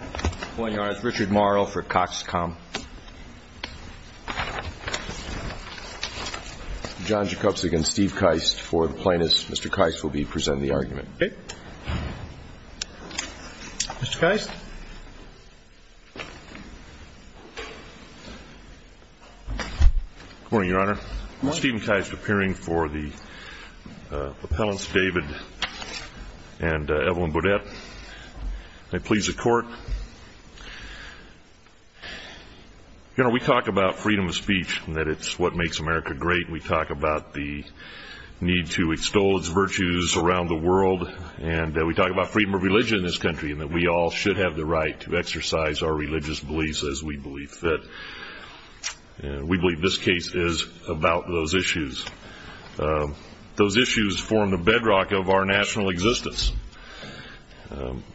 Mr. Keist, appearing for the appellants David and Evelyn Boudette. May it please the court. You know, we talk about freedom of speech and that it's what makes America great. We talk about the need to extol its virtues around the world, and we talk about freedom of religion in this country and that we all should have the right to exercise our religious beliefs Those issues form the bedrock of our national existence.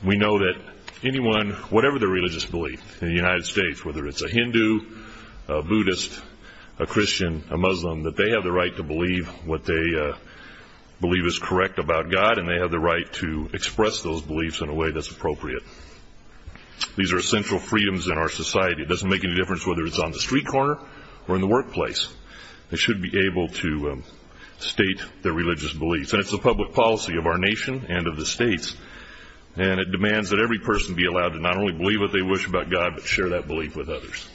We know that anyone, whatever their religious belief in the United States, whether it's a Hindu, a Buddhist, a Christian, a Muslim, that they have the right to believe what they believe is correct about God, and they have the right to express those beliefs in a way that's appropriate. These are essential freedoms in our society. It doesn't make any difference whether it's on the street corner or in the workplace. They should be able to state their religious beliefs. And it's the public policy of our nation and of the states, and it demands that every person be allowed to not only believe what they wish about God, but share that belief with others.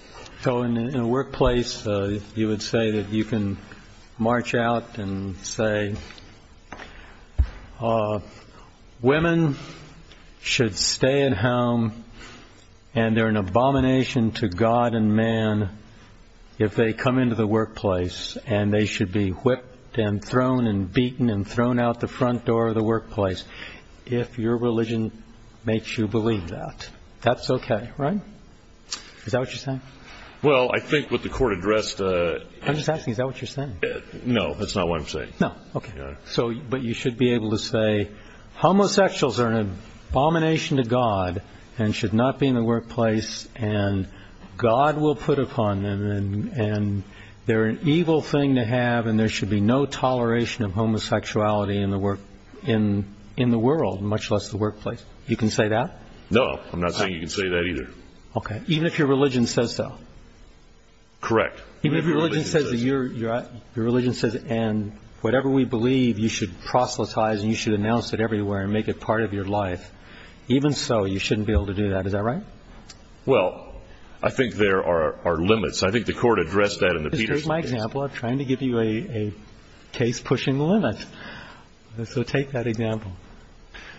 So in a workplace, you would say that you can march out and say, Women should stay at home, and they're an abomination to God and man if they come into the workplace, and they should be whipped and thrown and beaten and thrown out the front door of the workplace, if your religion makes you believe that. That's okay, right? Is that what you're saying? Well, I think what the court addressed... I'm just asking, is that what you're saying? No, that's not what I'm saying. No, okay. But you should be able to say, Homosexuals are an abomination to God and should not be in the workplace, and God will put upon them, and they're an evil thing to have, and there should be no toleration of homosexuality in the world, much less the workplace. You can say that? No, I'm not saying you can say that either. Okay. Even if your religion says so? Correct. Even if your religion says, and whatever we believe, you should proselytize and you should announce it everywhere and make it part of your life, even so you shouldn't be able to do that. Is that right? Well, I think there are limits. I think the court addressed that in the Peterson case. Just take my example. I'm trying to give you a case pushing the limits. So take that example.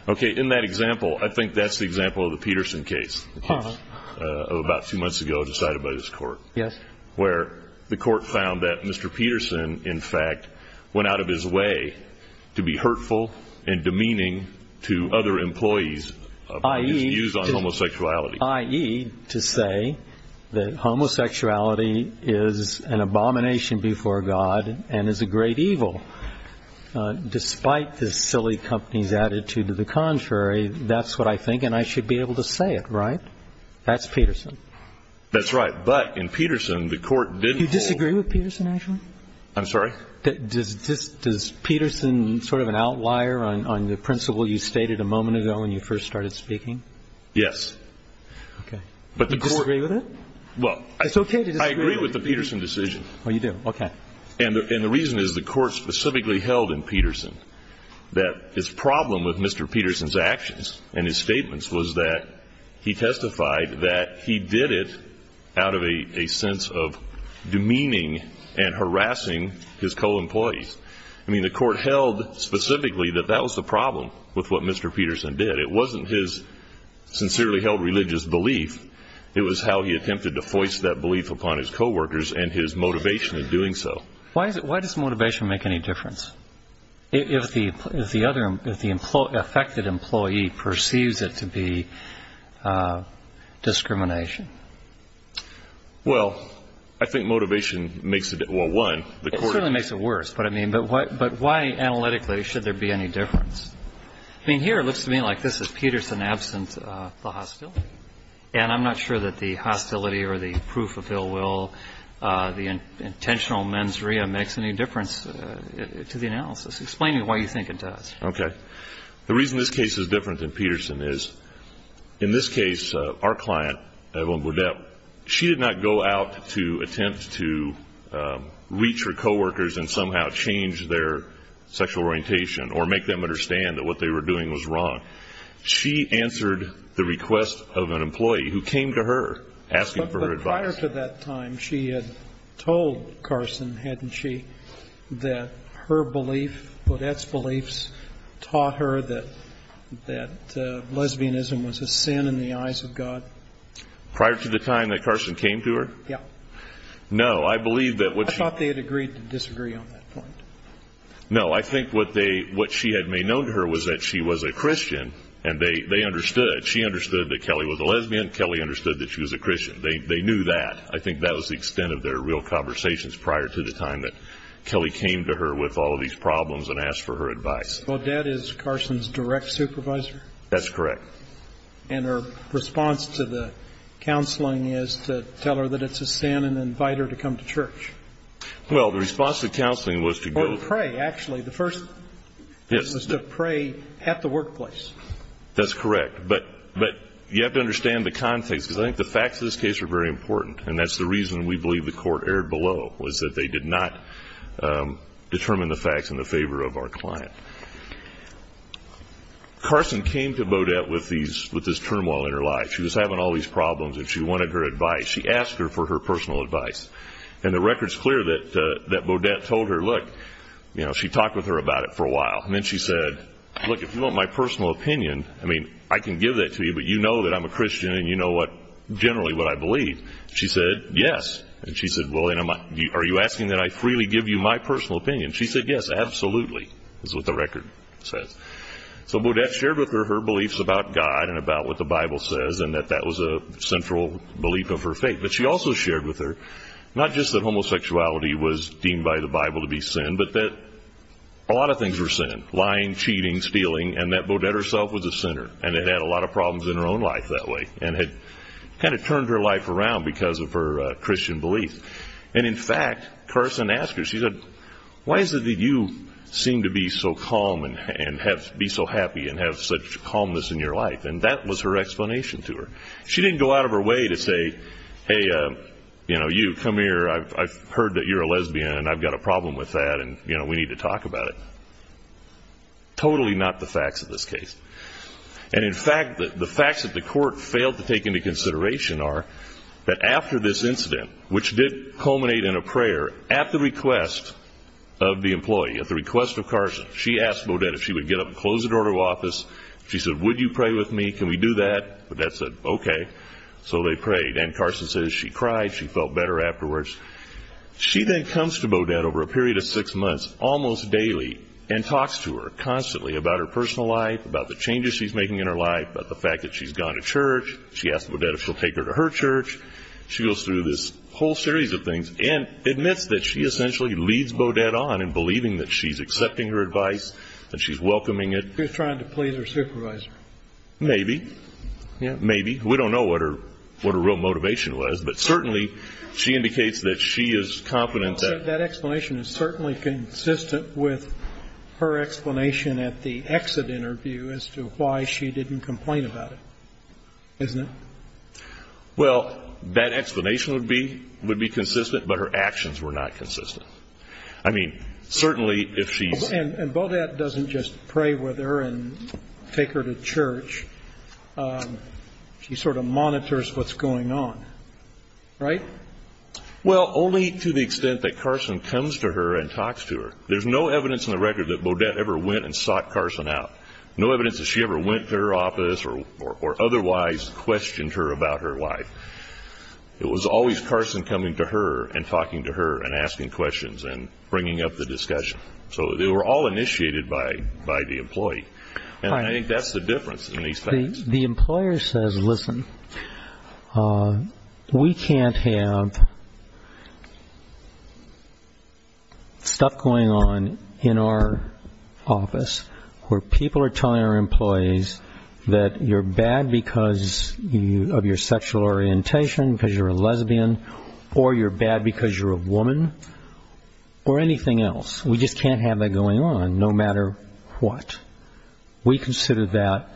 Okay, in that example, I think that's the example of the Peterson case of about two months ago decided by this court. Yes. Where the court found that Mr. Peterson, in fact, went out of his way to be hurtful and demeaning to other employees about his views on homosexuality. I.e., to say that homosexuality is an abomination before God and is a great evil. Despite this silly company's attitude to the contrary, that's what I think, and I should be able to say it, right? That's Peterson. That's right. But in Peterson, the court didn't hold. Do you disagree with Peterson, actually? I'm sorry? Does Peterson sort of an outlier on the principle you stated a moment ago when you first started speaking? Yes. Okay. Do you disagree with it? Well, I agree with the Peterson decision. Oh, you do? Okay. And the reason is the court specifically held in Peterson that his problem with Mr. Peterson's actions and his statements was that he testified that he did it out of a sense of demeaning and harassing his co-employees. I mean, the court held specifically that that was the problem with what Mr. Peterson did. It wasn't his sincerely held religious belief. It was how he attempted to voice that belief upon his co-workers and his motivation in doing so. Why does motivation make any difference? If the affected employee perceives it to be discrimination. Well, I think motivation makes it one. It certainly makes it worse. But, I mean, why analytically should there be any difference? I mean, here it looks to me like this is Peterson's absence, the hostility. And I'm not sure that the hostility or the proof of ill will, the intentional mens rea, makes any difference to the analysis. Explain to me why you think it does. Okay. The reason this case is different than Peterson is, in this case, our client, Evelyn Boudette, she did not go out to attempt to reach her co-workers and somehow change their sexual orientation or make them understand that what they were doing was wrong. She answered the request of an employee who came to her asking for her advice. Prior to that time, she had told Carson, hadn't she, that her belief, Boudette's beliefs, taught her that lesbianism was a sin in the eyes of God? Prior to the time that Carson came to her? Yeah. No. I believe that what she... I thought they had agreed to disagree on that point. No. I think what she had made known to her was that she was a Christian, and they understood. She understood that Kelly was a lesbian. Kelly understood that she was a Christian. They knew that. I think that was the extent of their real conversations prior to the time that Kelly came to her with all of these problems and asked for her advice. Boudette is Carson's direct supervisor? That's correct. And her response to the counseling is to tell her that it's a sin and invite her to come to church? Well, the response to counseling was to go... Or to pray, actually. The first was to pray at the workplace. That's correct. But you have to understand the context, because I think the facts of this case are very important, and that's the reason we believe the court erred below, was that they did not determine the facts in the favor of our client. Carson came to Boudette with this turmoil in her life. She was having all these problems, and she wanted her advice. She asked her for her personal advice. And the record's clear that Boudette told her, look... She talked with her about it for a while. And then she said, look, if you want my personal opinion, I mean, I can give that to you, but you know that I'm a Christian, and you know generally what I believe. She said, yes. And she said, well, are you asking that I freely give you my personal opinion? She said, yes, absolutely. That's what the record says. So Boudette shared with her her beliefs about God and about what the Bible says, and that that was a central belief of her faith. But she also shared with her not just that homosexuality was deemed by the Bible to be sin, but that a lot of things were sin, lying, cheating, stealing, and that Boudette herself was a sinner and had had a lot of problems in her own life that way and had kind of turned her life around because of her Christian beliefs. And in fact, Carson asked her, she said, why is it that you seem to be so calm and be so happy and have such calmness in your life? And that was her explanation to her. She didn't go out of her way to say, hey, you know, you, come here. I've heard that you're a lesbian, and I've got a problem with that, and, you know, we need to talk about it. Totally not the facts of this case. And in fact, the facts that the court failed to take into consideration are that after this incident, which did culminate in a prayer at the request of the employee, at the request of Carson, she asked Boudette if she would get up and close the door to her office. She said, would you pray with me? Can we do that? Boudette said, okay. So they prayed, and Carson says she cried. She felt better afterwards. She then comes to Boudette over a period of six months almost daily and talks to her constantly about her personal life, about the changes she's making in her life, about the fact that she's gone to church. She asks Boudette if she'll take her to her church. She goes through this whole series of things and admits that she essentially leads Boudette on in believing that she's accepting her advice and she's welcoming it. She was trying to please her supervisor. Maybe. Yeah, maybe. We don't know what her real motivation was. But certainly she indicates that she is confident that. That explanation is certainly consistent with her explanation at the exit interview as to why she didn't complain about it, isn't it? Well, that explanation would be consistent, but her actions were not consistent. I mean, certainly if she. And Boudette doesn't just pray with her and take her to church. She sort of monitors what's going on, right? Well, only to the extent that Carson comes to her and talks to her. There's no evidence in the record that Boudette ever went and sought Carson out, no evidence that she ever went to her office or otherwise questioned her about her wife. It was always Carson coming to her and talking to her and asking questions and bringing up the discussion. So they were all initiated by the employee. And I think that's the difference in these things. The employer says, listen, we can't have stuff going on in our office where people are telling our employees that you're bad because of your sexual orientation, because you're a lesbian, or you're bad because you're a woman, or anything else. We just can't have that going on, no matter what. We consider that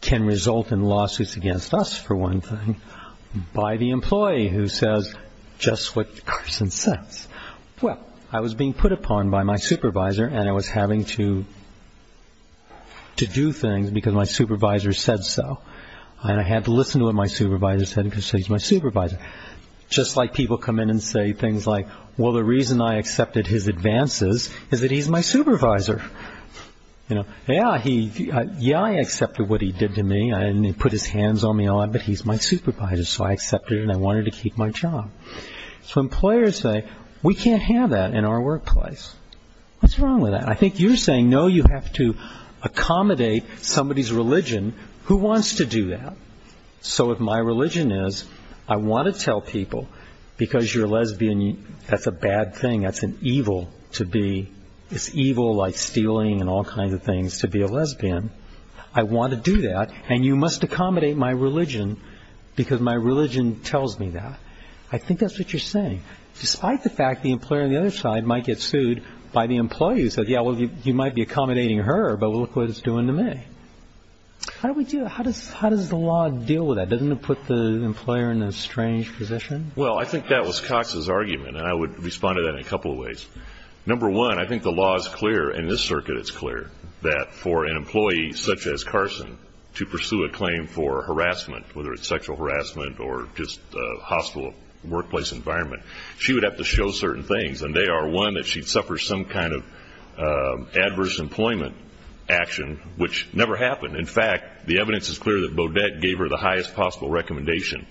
can result in lawsuits against us, for one thing, by the employee who says just what Carson says. Well, I was being put upon by my supervisor, and I was having to do things because my supervisor said so. And I had to listen to what my supervisor said because he's my supervisor. Just like people come in and say things like, well, the reason I accepted his advances is that he's my supervisor. Yeah, I accepted what he did to me, and he put his hands on me a lot, but he's my supervisor, so I accepted it and I wanted to keep my job. So employers say, we can't have that in our workplace. What's wrong with that? I think you're saying, no, you have to accommodate somebody's religion. Who wants to do that? So if my religion is I want to tell people, because you're a lesbian, that's a bad thing. That's an evil to be. It's evil like stealing and all kinds of things to be a lesbian. I want to do that, and you must accommodate my religion because my religion tells me that. I think that's what you're saying, despite the fact the employer on the other side might get sued by the employee who said, yeah, well, you might be accommodating her, but look what it's doing to me. How does the law deal with that? Doesn't it put the employer in a strange position? Well, I think that was Cox's argument, and I would respond to that in a couple of ways. Number one, I think the law is clear, and in this circuit it's clear, that for an employee such as Carson to pursue a claim for harassment, whether it's sexual harassment or just a hostile workplace environment, she would have to show certain things, and they are, one, that she'd suffer some kind of adverse employment action, which never happened. In fact, the evidence is clear that Beaudet gave her the highest possible recommendation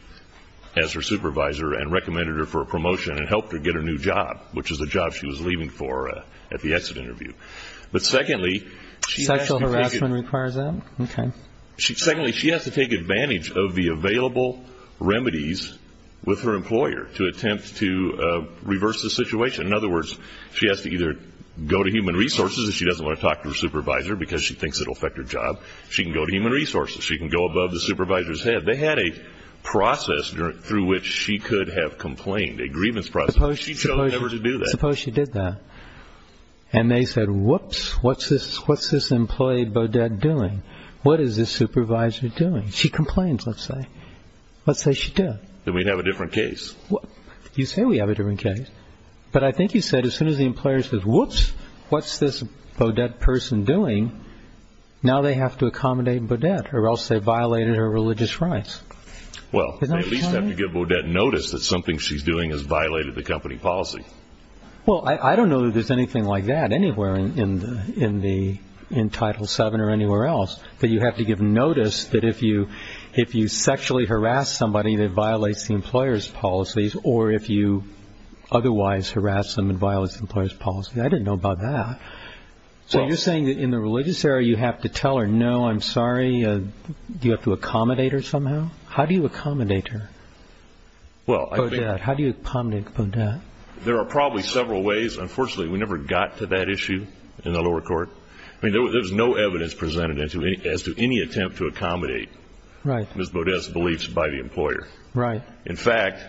as her supervisor and recommended her for a promotion and helped her get a new job, which is the job she was leaving for at the exit interview. But secondly, she has to take advantage of the available remedies with her employer to attempt to reverse the situation. In other words, she has to either go to human resources, if she doesn't want to talk to her supervisor because she thinks it will affect her job, she can go to human resources, she can go above the supervisor's head. They had a process through which she could have complained, a grievance process. Suppose she did that, and they said, whoops, what's this employee Beaudet doing? What is this supervisor doing? She complained, let's say. Let's say she did. Then we'd have a different case. You say we have a different case, but I think you said as soon as the employer says, whoops, what's this Beaudet person doing, now they have to accommodate Beaudet or else they violated her religious rights. Well, they at least have to give Beaudet notice that something she's doing has violated the company policy. Well, I don't know that there's anything like that anywhere in Title VII or anywhere else, that you have to give notice that if you sexually harass somebody that violates the employer's policies or if you otherwise harass them and violate the employer's policies. I didn't know about that. So you're saying that in the religious area you have to tell her, no, I'm sorry, you have to accommodate her somehow? How do you accommodate her, Beaudet? How do you accommodate Beaudet? There are probably several ways. Unfortunately, we never got to that issue in the lower court. I mean, there was no evidence presented as to any attempt to accommodate Ms. Beaudet's beliefs by the employer. Right. In fact,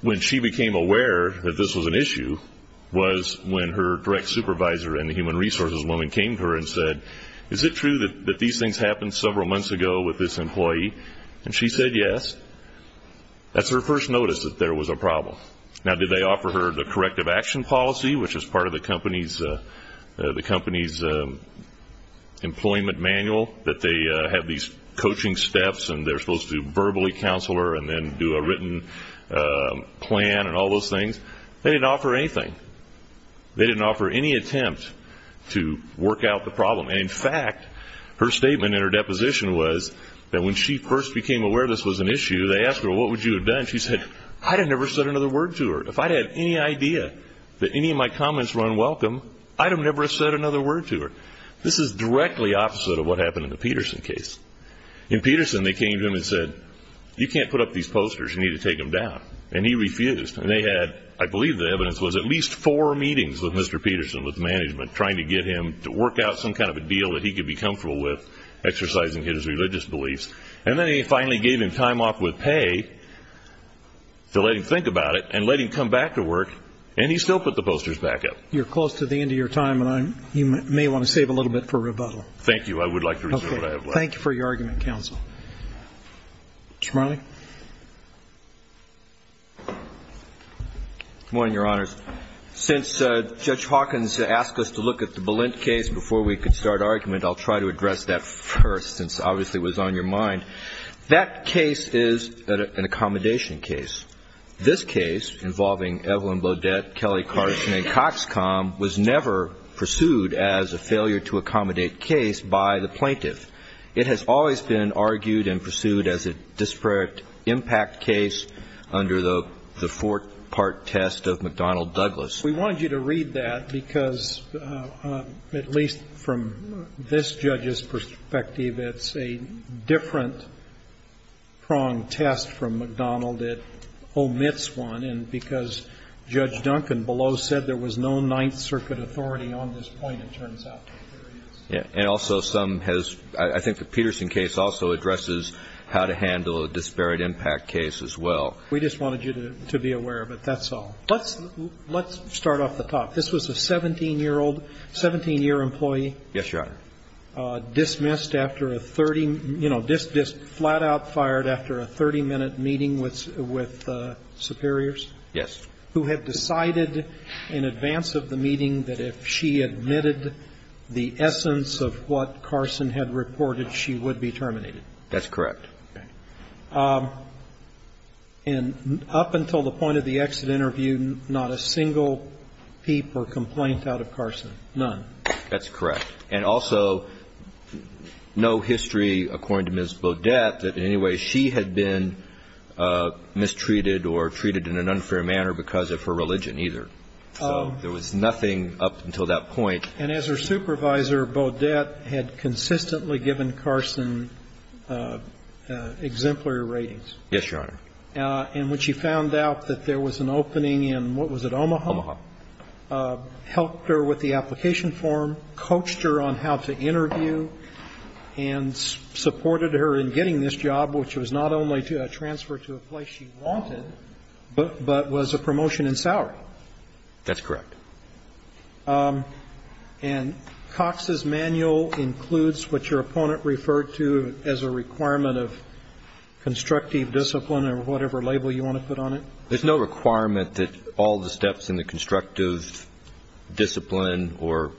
when she became aware that this was an issue was when her direct supervisor and the human resources woman came to her and said, is it true that these things happened several months ago with this employee? And she said yes. That's her first notice that there was a problem. Now, did they offer her the corrective action policy, which is part of the company's employment manual, that they have these coaching steps and they're supposed to verbally counsel her and then do a written plan and all those things? They didn't offer anything. They didn't offer any attempt to work out the problem. In fact, her statement in her deposition was that when she first became aware this was an issue, they asked her, what would you have done? She said, I'd have never said another word to her. If I'd had any idea that any of my comments were unwelcome, I'd have never said another word to her. This is directly opposite of what happened in the Peterson case. In Peterson, they came to him and said, you can't put up these posters. You need to take them down. And he refused. And they had, I believe the evidence was, at least four meetings with Mr. Peterson, with management, trying to get him to work out some kind of a deal that he could be comfortable with, exercising his religious beliefs. And then they finally gave him time off with pay to let him think about it and let him come back to work, and he still put the posters back up. You're close to the end of your time, and you may want to save a little bit for rebuttal. Thank you. I would like to reserve what I have left. Okay. Thank you for your argument, counsel. Mr. Marley. Good morning, Your Honors. Since Judge Hawkins asked us to look at the Balint case before we could start argument, I'll try to address that first, since obviously it was on your mind. That case is an accommodation case. This case, involving Evelyn Beaudet, Kelly Carson, and Coxcom, was never pursued as a failure-to-accommodate case by the plaintiff. It has always been argued and pursued as a disparate impact case under the four-part test of McDonnell-Douglas. We wanted you to read that because, at least from this judge's perspective, it's a different-pronged test from McDonnell that omits one, and because Judge Duncan below said there was no Ninth Circuit authority on this point, it turns out there is. And also some has – I think the Peterson case also addresses how to handle a disparate impact case as well. We just wanted you to be aware of it. That's all. Let's start off the top. This was a 17-year-old, 17-year employee. Yes, Your Honor. Dismissed after a 30 – you know, flat-out fired after a 30-minute meeting with superiors? Yes. Who had decided in advance of the meeting that if she admitted the essence of what Carson had reported, she would be terminated. That's correct. And up until the point of the exit interview, not a single peep or complaint out of Carson? None. That's correct. And also no history, according to Ms. Bodette, that in any way she had been mistreated or treated in an unfair manner because of her religion either. So there was nothing up until that point. And as her supervisor, Bodette had consistently given Carson exemplary ratings. Yes, Your Honor. And when she found out that there was an opening in what was it, Omaha? Omaha. Helped her with the application form, coached her on how to interview, and supported her in getting this job, which was not only a transfer to a place she wanted, but was a promotion in salary. That's correct. And Cox's manual includes what your opponent referred to as a requirement of constructive discipline or whatever label you want to put on it? There's no requirement that all the steps in the constructive discipline or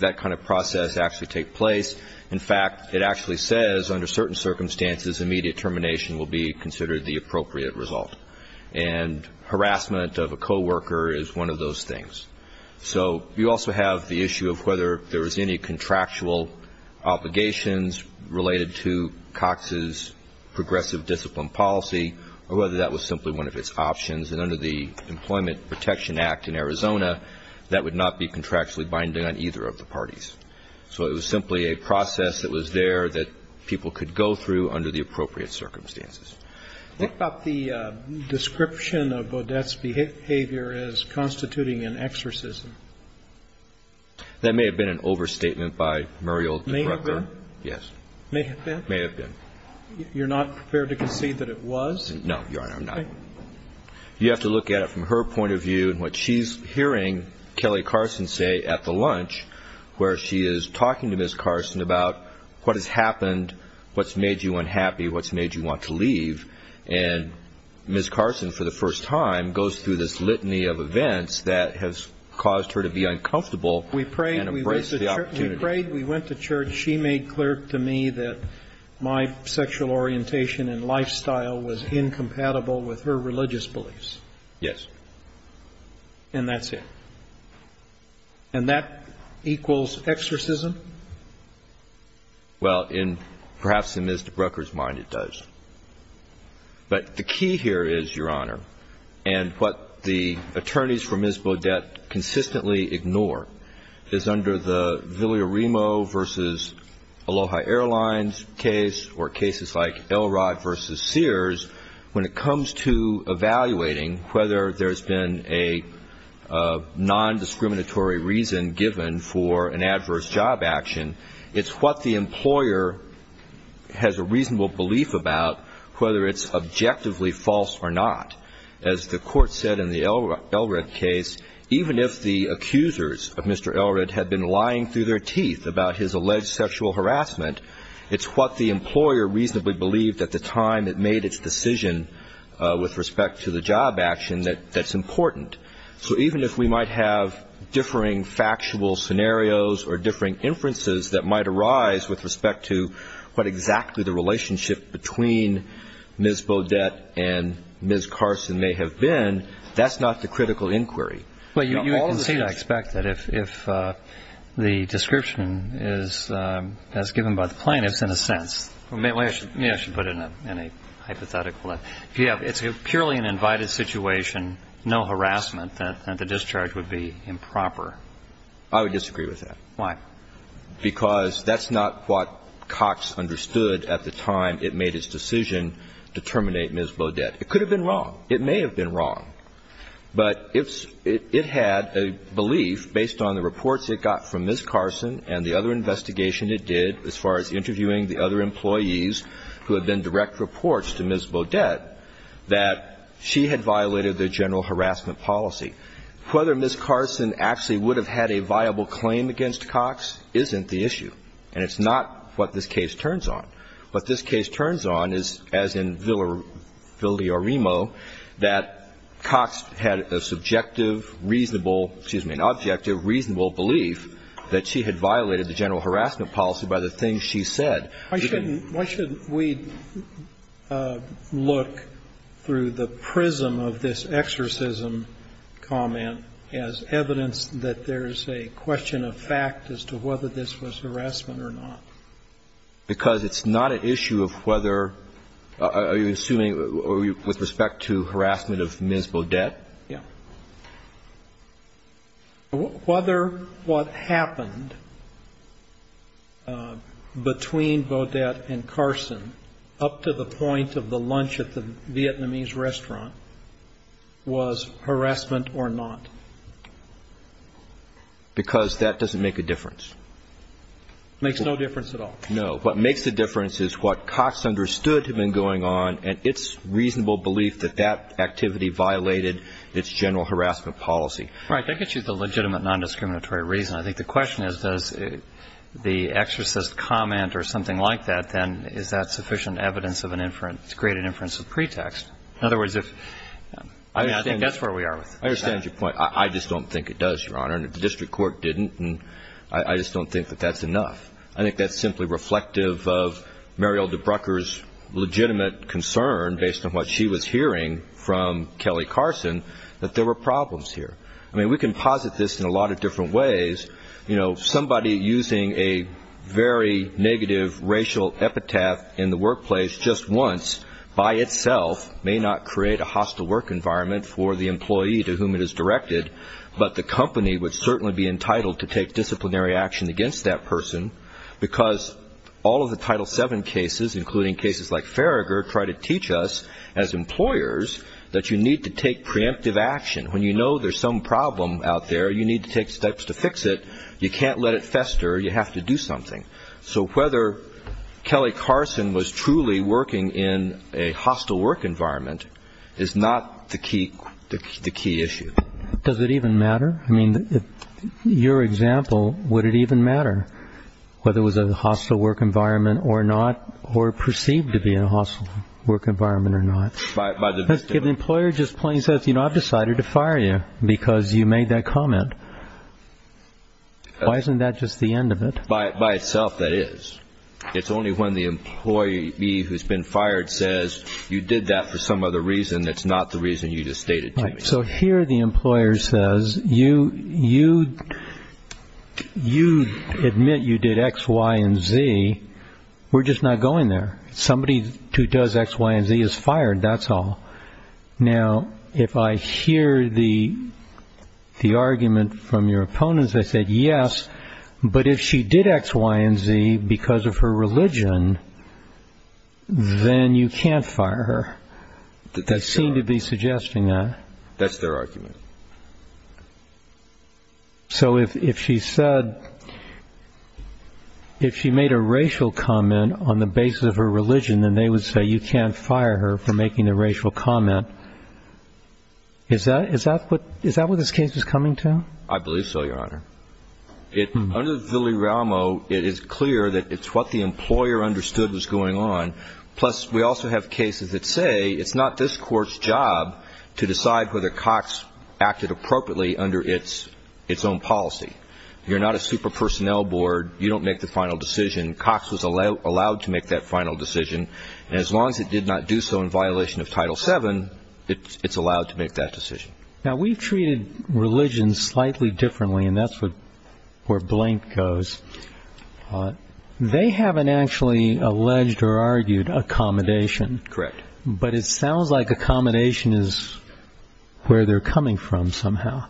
that kind of process actually take place. In fact, it actually says under certain circumstances immediate termination will be considered the appropriate result. And harassment of a coworker is one of those things. So you also have the issue of whether there was any contractual obligations related to Cox's progressive discipline policy or whether that was simply one of its options. And under the Employment Protection Act in Arizona, that would not be contractually binding on either of the parties. So it was simply a process that was there that people could go through under the appropriate circumstances. What about the description of O'Dette's behavior as constituting an exorcism? That may have been an overstatement by Muriel DeGrupper. May have been? Yes. May have been? May have been. You're not prepared to concede that it was? No, Your Honor, I'm not. Okay. You have to look at it from her point of view and what she's hearing Kelly Carson say at the lunch, where she is talking to Ms. Carson about what has happened, what's made you unhappy, what's made you want to leave, and Ms. Carson for the first time goes through this litany of events that has caused her to be uncomfortable and embrace the opportunity. We prayed. We went to church. She made clear to me that my sexual orientation and lifestyle was incompatible with her religious beliefs. Yes. And that's it. And that equals exorcism? Well, perhaps in Ms. DeGrupper's mind it does. But the key here is, Your Honor, and what the attorneys for Ms. O'Dette consistently ignore, is under the Villarimo v. Aloha Airlines case or cases like Elrod v. Sears, when it comes to evaluating whether there's been a nondiscriminatory reason given for an adverse job action, it's what the employer has a reasonable belief about, whether it's objectively false or not. As the Court said in the Elrod case, even if the accusers of Mr. Elrod had been lying through their teeth about his alleged sexual harassment, it's what the employer reasonably believed at the time it made its decision with respect to the job action that's important. So even if we might have differing factual scenarios or differing inferences that might arise with respect to what exactly the relationship between Ms. O'Dette and Ms. Carson may have been, that's not the critical inquiry. Well, you would concede, I expect, that if the description is as given by the plaintiffs, in a sense. Maybe I should put it in a hypothetical. It's purely an invited situation, no harassment, that the discharge would be improper. I would disagree with that. Why? Because that's not what Cox understood at the time it made its decision to terminate Ms. O'Dette. It could have been wrong. It may have been wrong. But it had a belief, based on the reports it got from Ms. Carson and the other investigation it did, as far as interviewing the other employees who had been direct reports to Ms. O'Dette, that she had violated the general harassment policy. Whether Ms. Carson actually would have had a viable claim against Cox isn't the issue. And it's not what this case turns on. What this case turns on is, as in Villarimo, that Cox had a subjective, reasonable, excuse me, an objective, reasonable belief that she had violated the general harassment policy by the things she said. Why shouldn't we look through the prism of this exorcism comment as evidence that there's a question of fact as to whether this was harassment or not? Because it's not an issue of whether, are you assuming, with respect to harassment of Ms. O'Dette? Yeah. Whether what happened between O'Dette and Carson up to the point of the lunch at the Vietnamese restaurant was harassment or not. Because that doesn't make a difference. It makes no difference at all. No. What makes the difference is what Cox understood had been going on, and it's reasonable belief that that activity violated its general harassment policy. Right. That gets you to the legitimate nondiscriminatory reason. I think the question is, does the exorcist comment or something like that, then, is that sufficient evidence of an inference, to create an inference of pretext? In other words, I think that's where we are with it. I understand your point. I just don't think it does, Your Honor. And if the district court didn't, I just don't think that that's enough. I think that's simply reflective of Mariel DeBrucker's legitimate concern, based on what she was hearing from Kelly Carson, that there were problems here. I mean, we can posit this in a lot of different ways. You know, somebody using a very negative racial epitaph in the workplace just once, by itself, may not create a hostile work environment for the employee to whom it is directed, but the company would certainly be entitled to take disciplinary action against that person, because all of the Title VII cases, including cases like Farragher, try to teach us, as employers, that you need to take preemptive action. When you know there's some problem out there, you need to take steps to fix it. You can't let it fester. You have to do something. So whether Kelly Carson was truly working in a hostile work environment is not the key issue. Does it even matter? I mean, your example, would it even matter whether it was a hostile work environment or not, or perceived to be a hostile work environment or not? If the employer just plain says, you know, I've decided to fire you because you made that comment, why isn't that just the end of it? By itself, that is. It's only when the employee who's been fired says you did that for some other reason that's not the reason you just stated to me. So here the employer says, you admit you did X, Y, and Z. We're just not going there. Somebody who does X, Y, and Z is fired, that's all. Now, if I hear the argument from your opponents that said, yes, but if she did X, Y, and Z because of her religion, then you can't fire her. They seem to be suggesting that. That's their argument. So if she said, if she made a racial comment on the basis of her religion, then they would say you can't fire her for making a racial comment. Is that what this case is coming to? I believe so, Your Honor. Under the Villi-Raumo, it is clear that it's what the employer understood was going on. Plus, we also have cases that say it's not this court's job to decide whether Cox acted appropriately under its own policy. You're not a super personnel board. You don't make the final decision. Cox was allowed to make that final decision. And as long as it did not do so in violation of Title VII, it's allowed to make that decision. Now, we've treated religion slightly differently, and that's where Blank goes. They haven't actually alleged or argued accommodation. Correct. But it sounds like accommodation is where they're coming from somehow.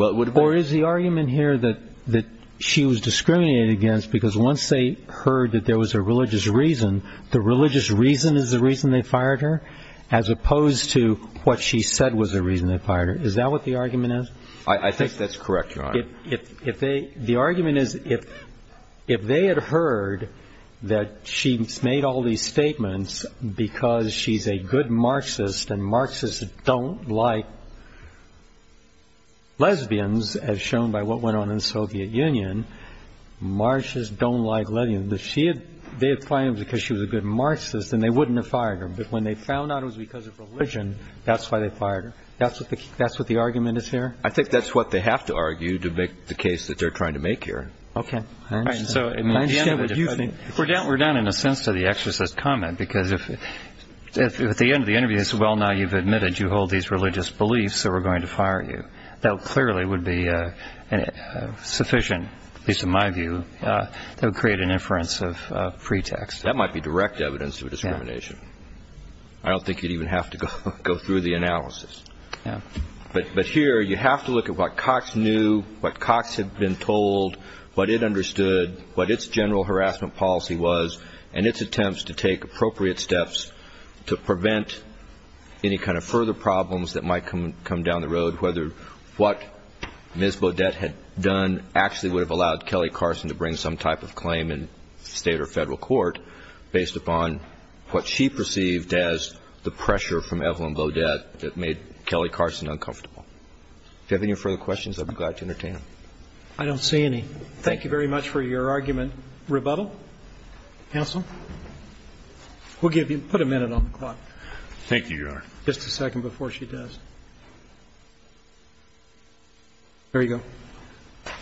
Or is the argument here that she was discriminated against because once they heard that there was a religious reason, the religious reason is the reason they fired her, as opposed to what she said was the reason they fired her? Is that what the argument is? I think that's correct, Your Honor. The argument is if they had heard that she made all these statements because she's a good Marxist and Marxists don't like lesbians, as shown by what went on in the Soviet Union, Marxists don't like lesbians, if they had found it was because she was a good Marxist, then they wouldn't have fired her. But when they found out it was because of religion, that's why they fired her. That's what the argument is here? I think that's what they have to argue to make the case that they're trying to make here. Okay. I understand what you think. We're down, in a sense, to the exorcist's comment, because if at the end of the interview they say, well, now you've admitted you hold these religious beliefs, so we're going to fire you, that clearly would be sufficient, at least in my view, that would create an inference of pretext. That might be direct evidence of discrimination. I don't think you'd even have to go through the analysis. But here you have to look at what Cox knew, what Cox had been told, what it understood, what its general harassment policy was, and its attempts to take appropriate steps to prevent any kind of further problems that might come down the road, whether what Ms. Beaudet had done actually would have allowed Kelly Carson to bring some type of claim in state or federal court, based upon what she perceived as the pressure from Evelyn Beaudet that made Kelly Carson uncomfortable. If you have any further questions, I'd be glad to entertain them. I don't see any. Thank you very much for your argument. Rebuttal? Counsel? We'll give you ñ put a minute on the clock. Thank you, Your Honor. Just a second before she does. There you go.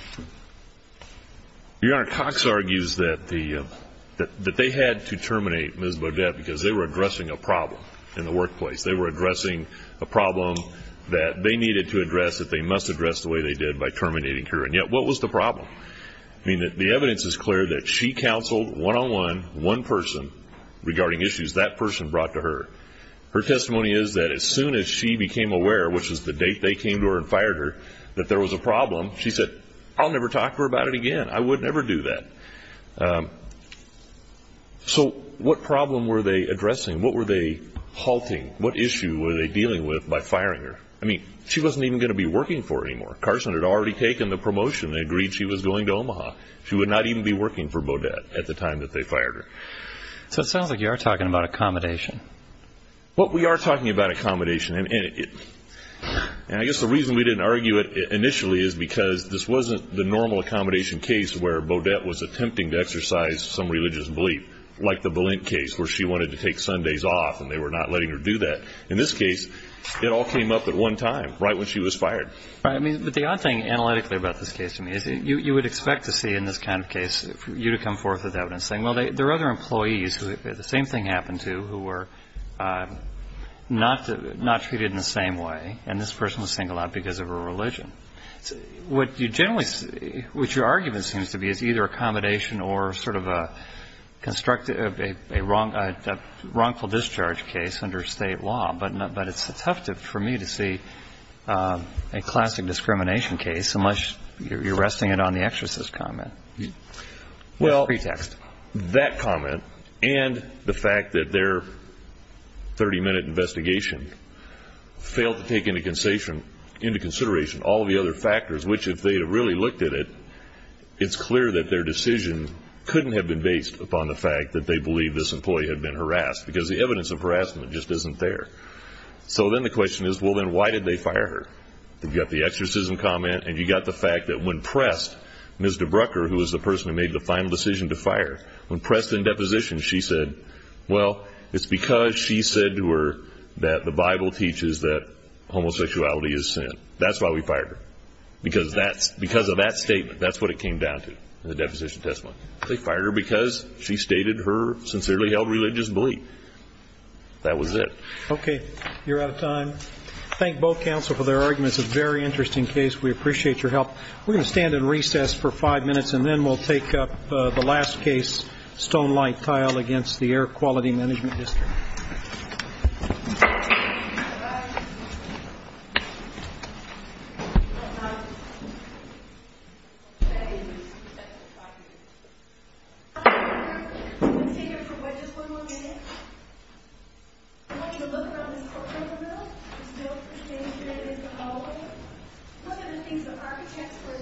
Your Honor, Cox argues that they had to terminate Ms. Beaudet because they were addressing a problem in the workplace. They were addressing a problem that they needed to address, that they must address the way they did by terminating her. And yet, what was the problem? I mean, the evidence is clear that she counseled one-on-one, one person, regarding issues that person brought to her. Her testimony is that as soon as she became aware, which is the date they came to her and fired her, that there was a problem, she said, I'll never talk to her about it again. I would never do that. So what problem were they addressing? What were they halting? What issue were they dealing with by firing her? I mean, she wasn't even going to be working for her anymore. Carson had already taken the promotion. They agreed she was going to Omaha. She would not even be working for Beaudet at the time that they fired her. So it sounds like you are talking about accommodation. Well, we are talking about accommodation. And I guess the reason we didn't argue it initially is because this wasn't the normal accommodation case where Beaudet was attempting to exercise some religious belief, like the Balint case where she wanted to take Sundays off and they were not letting her do that. In this case, it all came up at one time, right when she was fired. All right. But the odd thing analytically about this case to me is you would expect to see in this kind of case for you to come forth with evidence saying, well, there are other employees who the same thing happened to who were not treated in the same way, and this person was singled out because of her religion. What you generally see, what your argument seems to be, is either accommodation or sort of a constructive, a wrongful discharge case under state law. But it's tough for me to see a classic discrimination case unless you're resting it on the exorcist comment as a pretext. That comment and the fact that their 30-minute investigation failed to take into consideration all of the other factors, which if they had really looked at it, it's clear that their decision couldn't have been based upon the fact that they believed this employee had been harassed because the evidence of harassment just isn't there. So then the question is, well, then why did they fire her? You've got the exorcism comment and you've got the fact that when pressed, Ms. DeBrucker, who was the person who made the final decision to fire, when pressed in deposition, she said, well, it's because she said to her that the Bible teaches that homosexuality is sin. That's why we fired her, because of that statement. That's what it came down to in the deposition testimony. They fired her because she stated her sincerely held religious belief. That was it. Okay, you're out of time. Thank both counsel for their arguments. It's a very interesting case. We appreciate your help. We're going to stand in recess for five minutes, and then we'll take up the last case, Stonelight Tile, against the Air Quality Management District. Thank you.